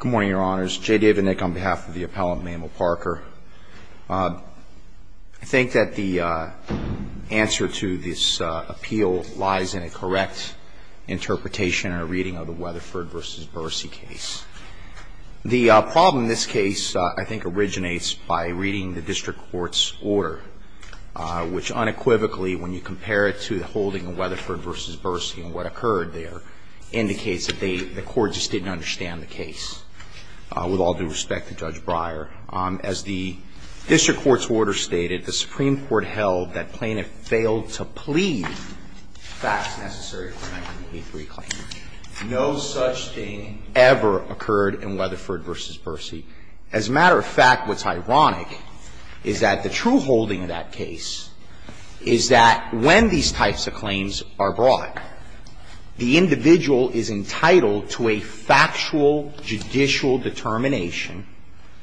Good morning, your honors. J. David Nick on behalf of the appellant Memo Parker. I think that the answer to this appeal lies in a correct interpretation and a reading of the Weatherford v. Bursey case. The problem in this case I think originates by reading the district court's order, which unequivocally, when you compare it to the holding of Weatherford v. Bursey and what occurred there, indicates that the court just didn't understand the case. With all due respect to Judge Breyer, as the district court's order stated, the Supreme Court held that plaintiff failed to plead facts necessary for a 1983 claim. No such thing ever occurred in Weatherford v. Bursey. As a matter of fact, what's ironic is that the true holding of that case is that when these types of claims are brought, the individual is entitled to a factual, judicial determination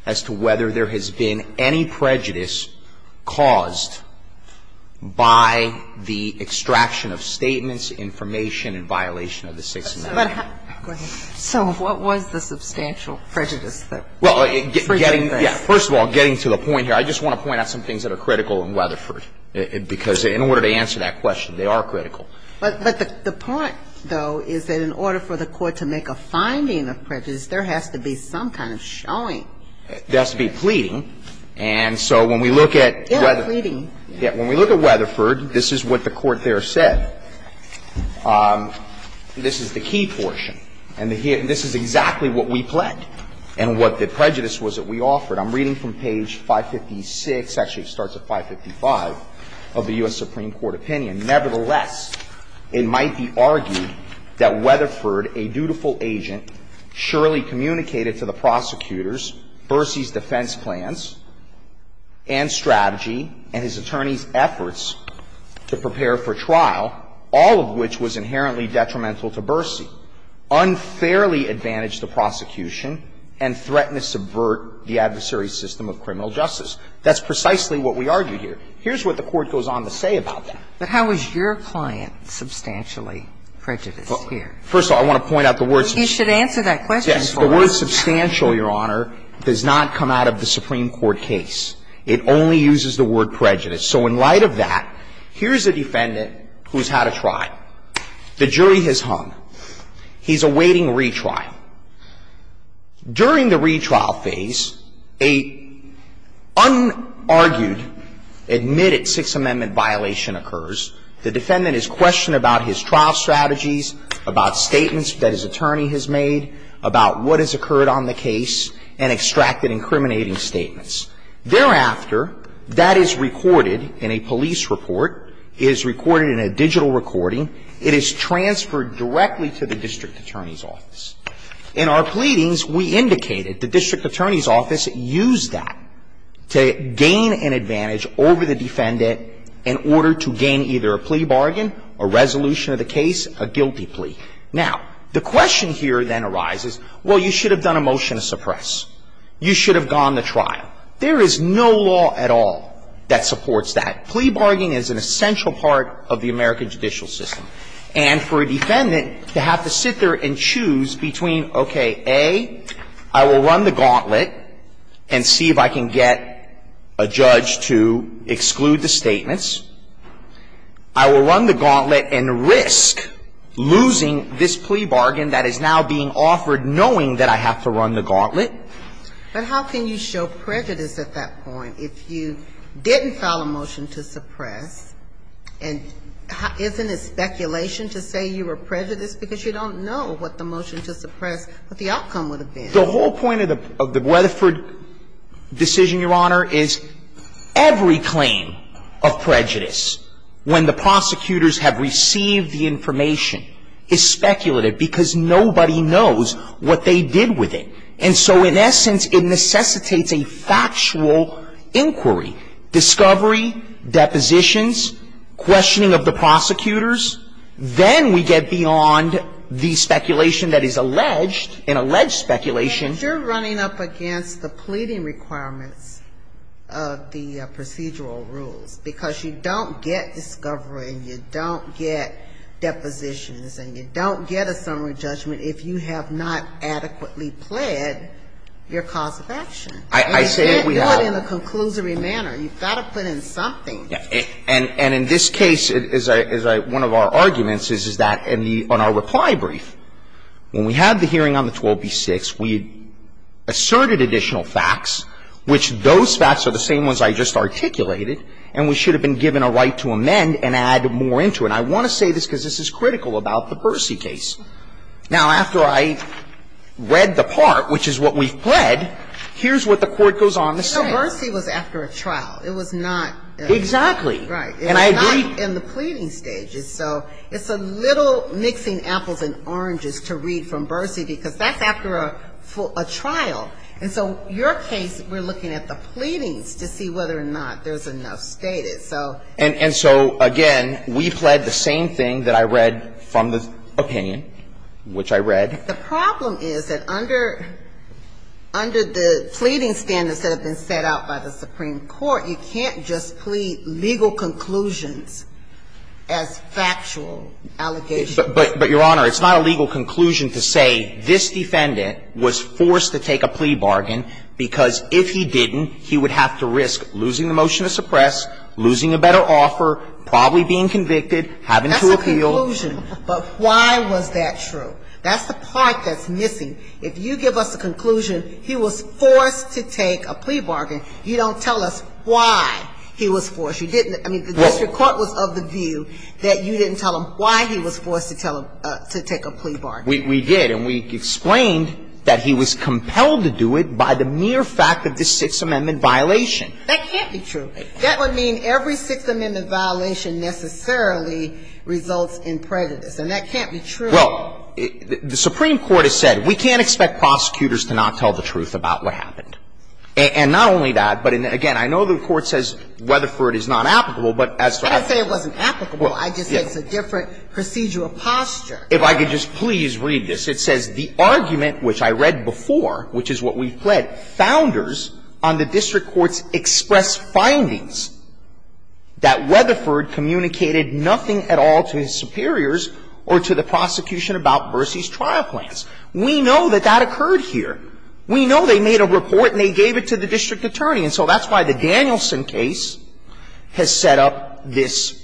as to whether there has been any prejudice caused by the extraction of statements, information, and violation of the Sixth Amendment. So what was the substantial prejudice? First of all, getting to the point here, I just want to point out some things that are critical in Weatherford, because in order to answer that question, they are critical. But the point, though, is that in order for the court to make a finding of prejudice, there has to be some kind of showing. There has to be pleading. And so when we look at Weatherford, this is what the court there said. This is the key portion, and this is exactly what we pled and what the prejudice was that we offered. I'm reading from page 556, actually it starts at 555, of the U.S. Supreme Court opinion. Nevertheless, it might be argued that Weatherford, a dutiful agent, surely communicated to the prosecutors Bercy's defense plans and strategy and his attorney's efforts to prepare for trial, all of which was inherently detrimental to Bercy, unfairly advantaged the prosecution, and threatened to subvert the adversary's system of criminal justice. That's precisely what we argue here. Here's what the court goes on to say about that. But how is your client substantially prejudiced here? First of all, I want to point out the words. You should answer that question for us. Yes. The word substantial, Your Honor, does not come out of the Supreme Court case. It only uses the word prejudice. So in light of that, here's a defendant who's had a trial. The jury has hung. He's awaiting retrial. During the retrial phase, a unargued, admitted Sixth Amendment violation occurs. The defendant is questioned about his trial strategies, about statements that his attorney has made, about what has occurred on the case, and extracted incriminating statements. Thereafter, that is recorded in a police report, is recorded in a digital recording. It is transferred directly to the district attorney's office. In our pleadings, we indicated the district attorney's office used that to gain an advantage over the defendant in order to gain either a plea bargain, a resolution of the case, a guilty plea. Now, the question here then arises, well, you should have done a motion to suppress. You should have gone to trial. There is no law at all that supports that. The plea bargain is an essential part of the American judicial system. And for a defendant to have to sit there and choose between, okay, A, I will run the gauntlet and see if I can get a judge to exclude the statements. I will run the gauntlet and risk losing this plea bargain that is now being offered knowing that I have to run the gauntlet. But how can you show prejudice at that point if you didn't file a motion to suppress? And isn't it speculation to say you were prejudiced because you don't know what the motion to suppress, what the outcome would have been? The whole point of the Weatherford decision, Your Honor, is every claim of prejudice when the prosecutors have received the information is speculative because nobody knows what they did with it. And so in essence, it necessitates a factual inquiry, discovery, depositions, questioning of the prosecutors. Then we get beyond the speculation that is alleged, an alleged speculation. You're running up against the pleading requirements of the procedural rules because you don't get discovery and you don't get depositions and you don't get a summary judgment if you have not adequately pled your cause of action. And you can't do it in a conclusory manner. You've got to put in something. And in this case, as one of our arguments is, is that on our reply brief, when we had the hearing on the 12b-6, we asserted additional facts, which those facts are the same ones I just articulated, and we should have been given a right to amend and add more into it. And I want to say this because this is critical about the Bursey case. Now, after I read the part, which is what we've pled, here's what the Court goes on to say. So Bursey was after a trial. It was not at a trial. Exactly. Right. And I agree. It was not in the pleading stages. So it's a little mixing apples and oranges to read from Bursey because that's after a trial. And so your case, we're looking at the pleadings to see whether or not there's enough status. And so, again, we pled the same thing that I read from the opinion, which I read. The problem is that under the pleading standards that have been set out by the Supreme Court, you can't just plead legal conclusions as factual allegations. But, Your Honor, it's not a legal conclusion to say this defendant was forced to take a plea bargain because if he didn't, he would have to risk losing the motion to suppress, losing a better offer, probably being convicted, having to appeal. That's a conclusion. But why was that true? That's the part that's missing. If you give us a conclusion, he was forced to take a plea bargain, you don't tell us why he was forced. You didn't, I mean, the district court was of the view that you didn't tell him why he was forced to take a plea bargain. We did. And we explained that he was compelled to do it by the mere fact of this Sixth Amendment violation. That can't be true. That would mean every Sixth Amendment violation necessarily results in prejudice. And that can't be true. Well, the Supreme Court has said we can't expect prosecutors to not tell the truth about what happened. And not only that, but again, I know the Court says Rutherford is not applicable, but as to Rutherford. I didn't say it wasn't applicable. I just said it's a different procedural posture. If I could just please read this. It says, We know that that occurred here. We know they made a report and they gave it to the district attorney. And so that's why the Danielson case has set up this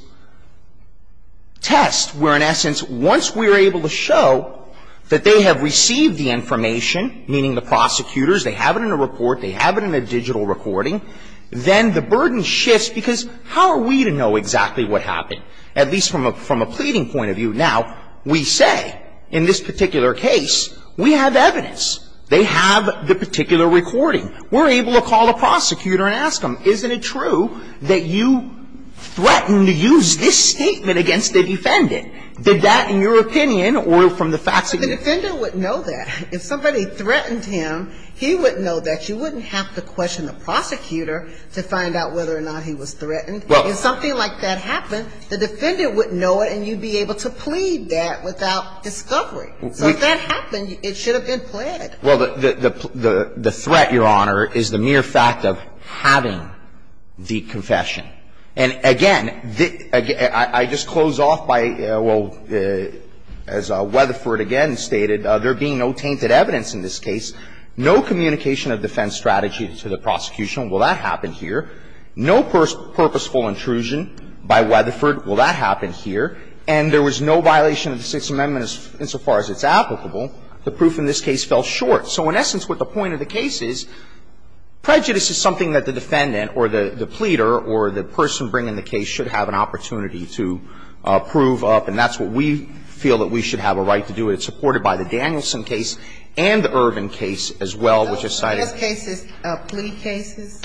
test where, in essence, once we're able to show that they have ruled that Rutherford is not applicable, meaning the prosecutors, they have it in a report, they have it in a digital recording, then the burden shifts because how are we to know exactly what happened, at least from a pleading point of view? Now, we say, in this particular case, we have evidence. They have the particular recording. We're able to call the prosecutor and ask them, isn't it true that you threatened to use this statement against the defendant? Did that, in your opinion, or from the facts of the defendant? Well, the defendant would know that. If somebody threatened him, he would know that. You wouldn't have to question the prosecutor to find out whether or not he was threatened. If something like that happened, the defendant would know it and you'd be able to plead that without discovery. So if that happened, it should have been pled. Well, the threat, Your Honor, is the mere fact of having the confession. And, again, I just close off by, well, as Weatherford again stated, there being no tainted evidence in this case, no communication of defense strategy to the prosecution. Well, that happened here. No purposeful intrusion by Weatherford. Well, that happened here. And there was no violation of the Sixth Amendment insofar as it's applicable. The proof in this case fell short. So in essence, what the point of the case is, prejudice is something that the defendant or the pleader or the person bringing the case should have an opportunity to prove up. And that's what we feel that we should have a right to do. It's supported by the Danielson case and the Irvin case as well, which is cited. So in those cases, plea cases?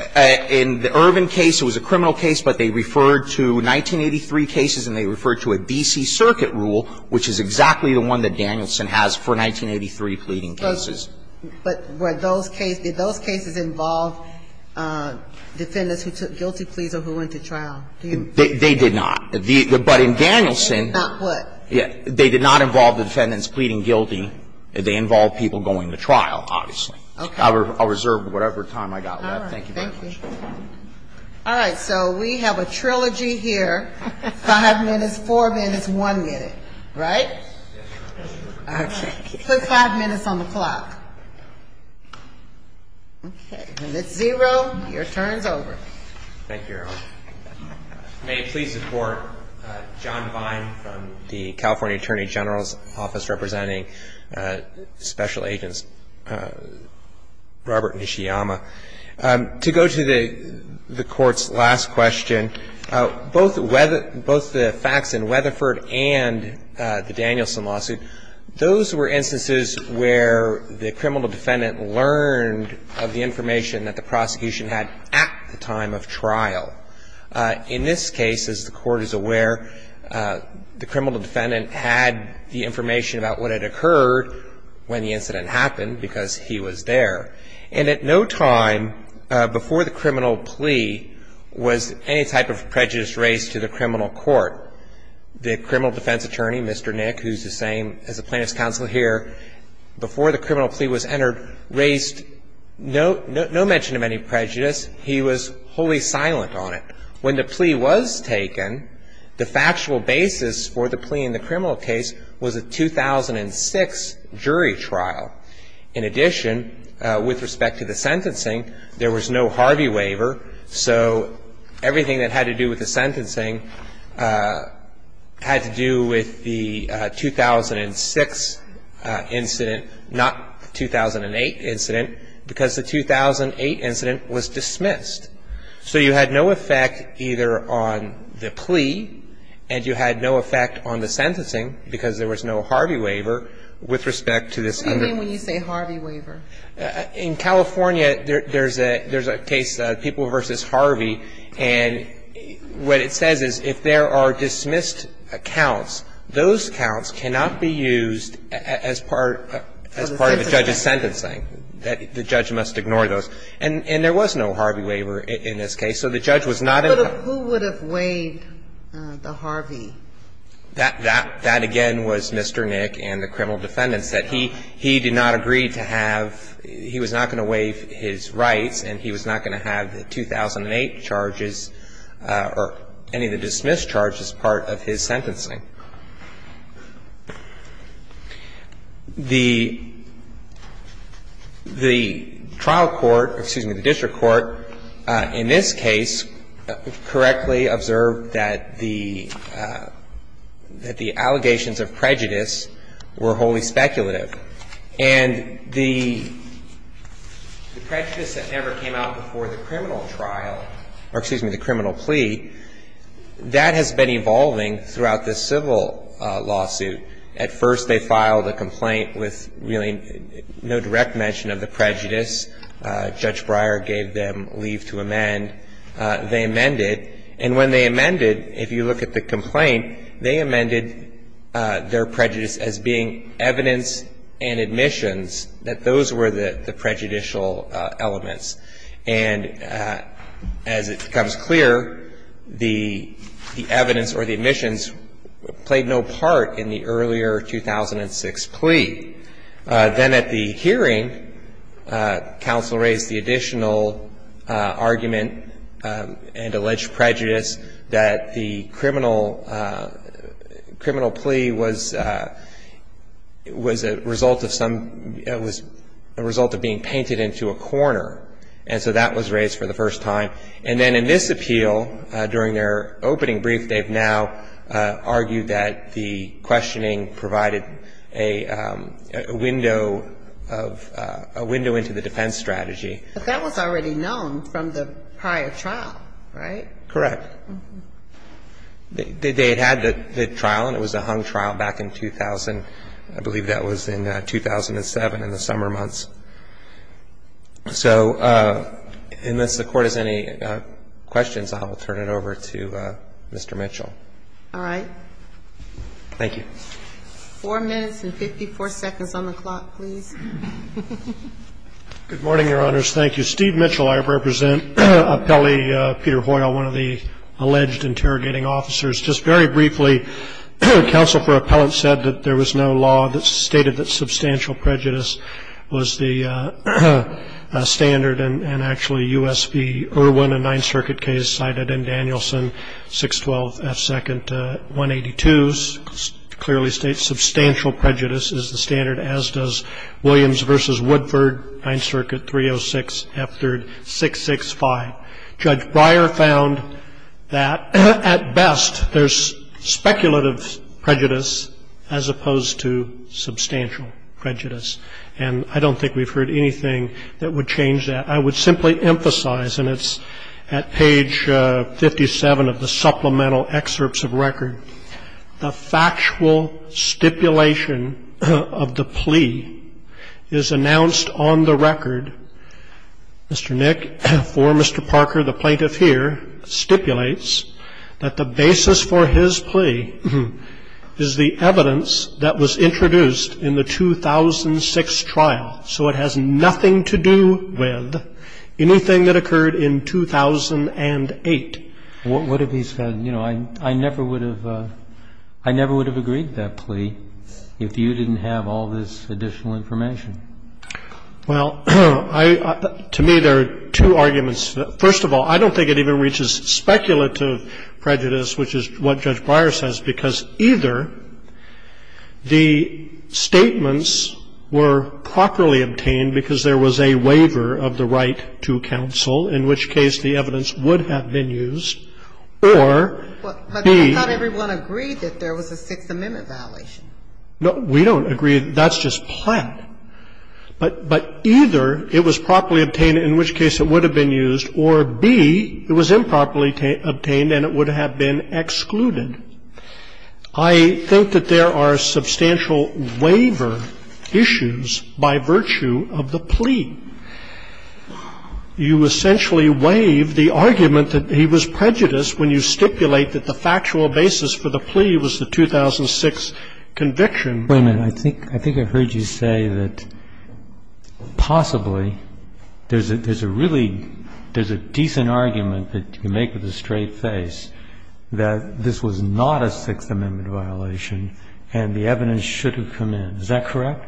In the Irvin case, it was a criminal case, but they referred to 1983 cases and they referred to a D.C. Circuit rule, which is exactly the one that Danielson has for 1983 pleading cases. But were those cases, did those cases involve defendants who took guilty pleas or who went to trial? They did not. But in Danielson, they did not involve the defendants pleading guilty. They involved people going to trial, obviously. Okay. I'll reserve whatever time I've got left. Thank you very much. All right. So we have a trilogy here, 5 minutes, 4 minutes, 1 minute. Right? Okay. Put 5 minutes on the clock. Okay. If it's zero, your turn is over. Thank you, Your Honor. May it please the Court, John Vine from the California Attorney General's Office representing Special Agents Robert Nishiyama. To go to the Court's last question, both the facts in Weatherford and the Danielson lawsuit, those were instances where the criminal defendant learned of the information that the prosecution had at the time of trial. In this case, as the Court is aware, the criminal defendant had the information about what had occurred when the incident happened because he was there. And at no time before the criminal plea was any type of prejudice raised to the criminal court, the criminal defense attorney, Mr. Nick, who's the same as the plaintiff's counsel here, before the criminal plea was entered, raised no mention of any prejudice. He was wholly silent on it. When the plea was taken, the factual basis for the plea in the criminal case was a 2006 jury trial. In addition, with respect to the sentencing, there was no Harvey waiver, so everything that had to do with the sentencing had to do with the 2006 incident, not the 2008 incident, because the 2008 incident was dismissed. So you had no effect either on the plea and you had no effect on the sentencing because there was no Harvey waiver with respect to this. What do you mean when you say Harvey waiver? In California, there's a case, People v. Harvey, and what it says is if there are dismissed accounts, those accounts cannot be used as part of the judge's sentencing. The judge must ignore those. And there was no Harvey waiver in this case. So the judge was not involved. Who would have waived the Harvey? That, again, was Mr. Nick and the criminal defendant. And so, in essence, that he did not agree to have, he was not going to waive his rights and he was not going to have the 2008 charges or any of the dismissed charges part of his sentencing. The trial court, excuse me, the district court, in this case, correctly observed that the allegations of prejudice were wholly speculative. And the prejudice that never came out before the criminal trial, or excuse me, the criminal plea, that has been evolving throughout this civil lawsuit. At first, they filed a complaint with really no direct mention of the prejudice. Judge Breyer gave them leave to amend. They amended. And when they amended, if you look at the complaint, they amended their prejudice as being evidence and admissions, that those were the prejudicial elements. And as it becomes clear, the evidence or the admissions played no part in the earlier 2006 plea. Then at the hearing, counsel raised the additional argument and alleged prejudice that the criminal plea was a result of some, was a result of being painted into a corner. And so that was raised for the first time. And then in this appeal, during their opening brief, they've now argued that the prejudice was a result of a window of, a window into the defense strategy. But that was already known from the prior trial, right? Correct. They had had the trial, and it was a hung trial back in 2000. I believe that was in 2007, in the summer months. So unless the Court has any questions, I'll turn it over to Mr. Mitchell. All right. Thank you. Four minutes and 54 seconds on the clock, please. Good morning, Your Honors. Thank you. Steve Mitchell. I represent appellee Peter Hoyle, one of the alleged interrogating officers. Just very briefly, counsel for appellant said that there was no law that stated that substantial prejudice was the standard, and actually U.S. v. Irwin, a Ninth Circuit judge, in 1982, clearly states substantial prejudice is the standard, as does Williams v. Woodford, Ninth Circuit, 306 F. 3rd, 665. Judge Breyer found that, at best, there's speculative prejudice as opposed to substantial prejudice. And I don't think we've heard anything that would change that. I would simply emphasize, and it's at page 57 of the supplemental excerpts of record, the factual stipulation of the plea is announced on the record. Mr. Nick, for Mr. Parker, the plaintiff here, stipulates that the basis for his plea is the evidence that was introduced in the 2006 trial. So it has nothing to do with anything that occurred in 2008. What if he said, you know, I never would have agreed to that plea if you didn't have all this additional information? Well, to me, there are two arguments. First of all, I don't think it even reaches speculative prejudice, which is what I'm trying to get at here. The statements were properly obtained because there was a waiver of the right to counsel, in which case the evidence would have been used, or B ---- But not everyone agreed that there was a Sixth Amendment violation. No, we don't agree. That's just plaintiff. But either it was properly obtained, in which case it would have been used, or B, it was improperly obtained and it would have been excluded. I think that there are substantial waiver issues by virtue of the plea. You essentially waive the argument that he was prejudiced when you stipulate that the factual basis for the plea was the 2006 conviction. Wait a minute. I mean, I think I heard you say that possibly there's a really decent argument that you can make with a straight face that this was not a Sixth Amendment violation and the evidence should have come in. Is that correct?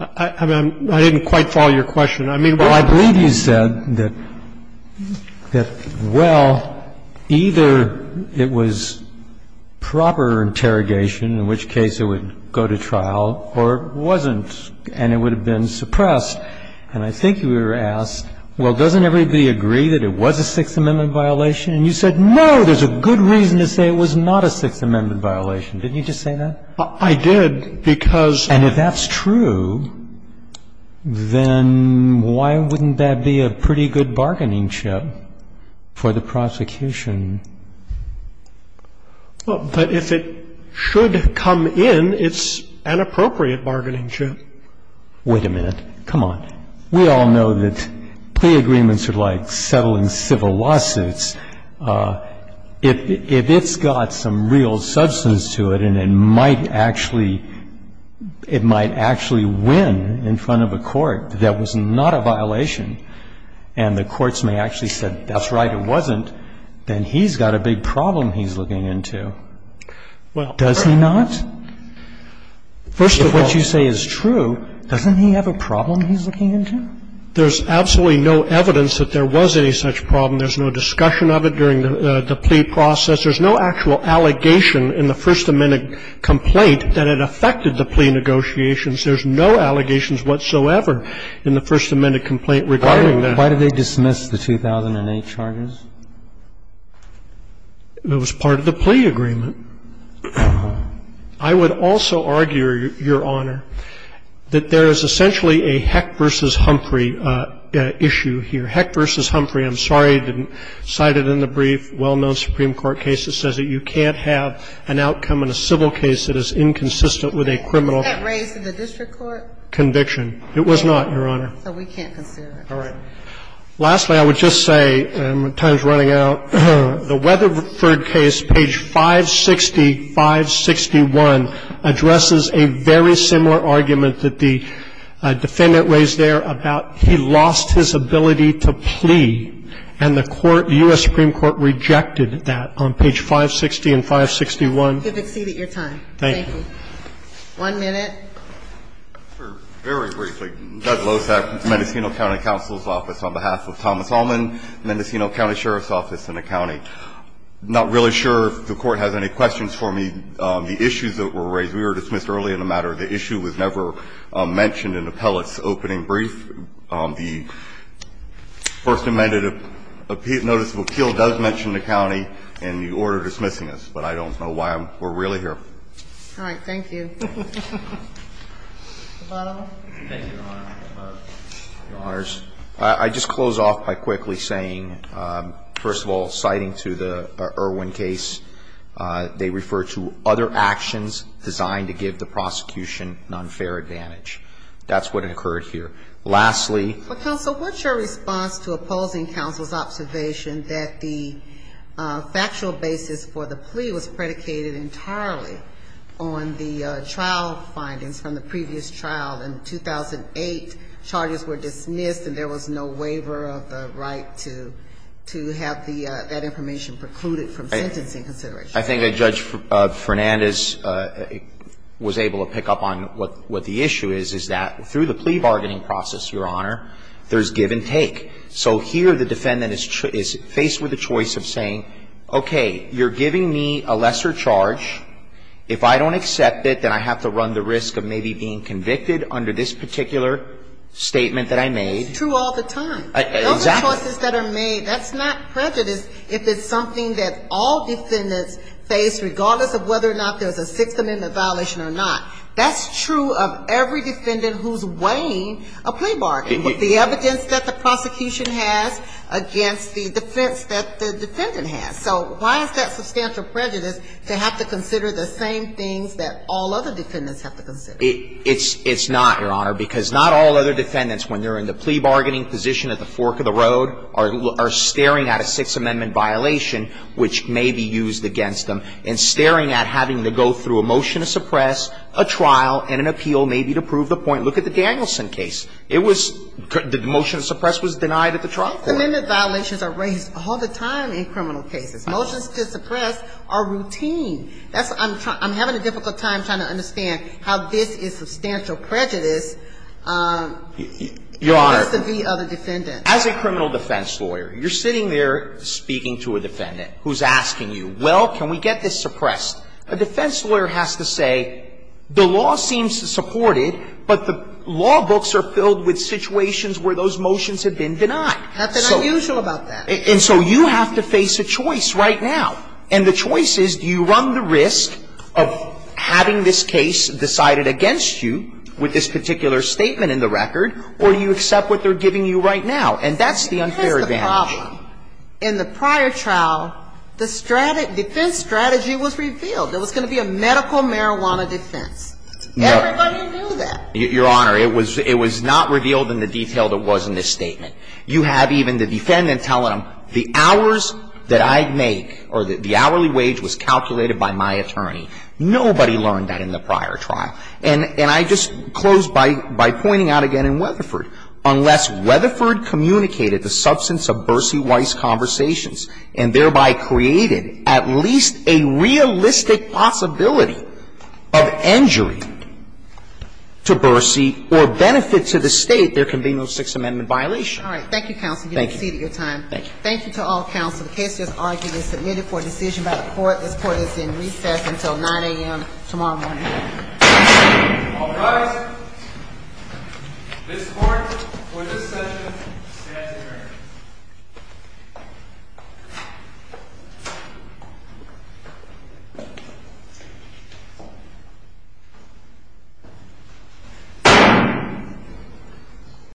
I didn't quite follow your question. Well, I believe you said that, well, either it was proper interrogation, in which case it would go to trial, or it wasn't and it would have been suppressed. And I think you were asked, well, doesn't everybody agree that it was a Sixth Amendment violation? And you said, no, there's a good reason to say it was not a Sixth Amendment violation. Didn't you just say that? I did, because ---- And if that's true, then why wouldn't that be a pretty good bargaining chip for the prosecution? Well, but if it should come in, it's an appropriate bargaining chip. Wait a minute. Come on. We all know that plea agreements are like settling civil lawsuits. If it's got some real substance to it and it might actually win in front of a court that was not a violation and the courts may actually say, that's right, it wasn't, then he's got a big problem he's looking into. Does he not? First of all, if what you say is true, doesn't he have a problem he's looking into? There's absolutely no evidence that there was any such problem. There's no discussion of it during the plea process. There's no actual allegation in the First Amendment complaint that it affected the plea negotiations. There's no allegations whatsoever in the First Amendment complaint regarding that. Why did they dismiss the 2008 charges? It was part of the plea agreement. I would also argue, Your Honor, that there is essentially a Heck v. Humphrey issue here. Heck v. Humphrey, I'm sorry I didn't cite it in the brief, well-known Supreme Court case that says that you can't have an outcome in a civil case that is inconsistent with a criminal conviction. Was that raised in the district court? It was not, Your Honor. So we can't consider it. All right. Lastly, I would just say, time's running out, the Weatherford case, page 560, 561, addresses a very similar argument that the defendant raised there about he lost his ability to plea, and the court, U.S. Supreme Court, rejected that on page 560 and 561. You've exceeded your time. Thank you. One minute. Very briefly. Doug Losack, Mendocino County Counsel's Office, on behalf of Thomas Allman, Mendocino County Sheriff's Office in the county. I'm not really sure if the Court has any questions for me. The issues that were raised, we were dismissed early in the matter. The issue was never mentioned in the appellate's opening brief. The First Amendment notice of appeal does mention the county in the order dismissing us, but I don't know why we're really here. All right. Thank you. Thank you, Your Honor. Your Honors, I just close off by quickly saying, first of all, citing to the Irwin case, they refer to other actions designed to give the prosecution an unfair advantage. That's what occurred here. Lastly. Counsel, what's your response to opposing counsel's observation that the factual basis for the plea was predicated entirely on the trial findings from the previous trial? In 2008, charges were dismissed and there was no waiver of the right to have that information precluded from sentencing consideration. I think that Judge Fernandez was able to pick up on what the issue is, is that through the plea bargaining process, Your Honor, there's give and take. So here the defendant is faced with a choice of saying, okay, you're giving me a lesser charge. If I don't accept it, then I have to run the risk of maybe being convicted under this particular statement that I made. It's true all the time. Exactly. Those are choices that are made. That's not prejudice if it's something that all defendants face, regardless of whether or not there's a Sixth Amendment violation or not. That's true of every defendant who's weighing a plea bargaining. But the evidence that the prosecution has against the defense that the defendant has. So why is that substantial prejudice to have to consider the same things that all other defendants have to consider? It's not, Your Honor, because not all other defendants, when they're in the plea bargaining position at the fork of the road, are staring at a Sixth Amendment violation which may be used against them and staring at having to go through a motion to suppress, a trial, and an appeal maybe to prove the point. Look at the Danielson case. It was the motion to suppress was denied at the trial court. Sixth Amendment violations are raised all the time in criminal cases. Motions to suppress are routine. That's why I'm having a difficult time trying to understand how this is substantial prejudice just to be other defendants. Your Honor, as a criminal defense lawyer, you're sitting there speaking to a defendant who's asking you, well, can we get this suppressed? A defense lawyer has to say, the law seems to support it, but the law books are filled with situations where those motions have been denied. Nothing unusual about that. And so you have to face a choice right now. And the choice is do you run the risk of having this case decided against you with this particular statement in the record, or do you accept what they're giving you right now? And that's the unfair advantage. In the prior trial, the defense strategy was revealed. There was going to be a medical marijuana defense. Everybody knew that. Your Honor, it was not revealed in the detail that was in this statement. You have even the defendant telling them, the hours that I make or the hourly wage was calculated by my attorney. Nobody learned that in the prior trial. And I just close by pointing out again in Weatherford, unless Weatherford communicated the substance of Bercy Weiss' conversations and thereby created at least a realistic possibility of injury to Bercy or benefit to the State, there can be no Sixth Amendment violation. All right. Thank you, counsel. Thank you. You have exceeded your time. Thank you. Thank you to all counsel. The case is argued and submitted for decision by the Court. This Court is in recess until 9 a.m. tomorrow morning. All rise. This Court for this session stands adjourned.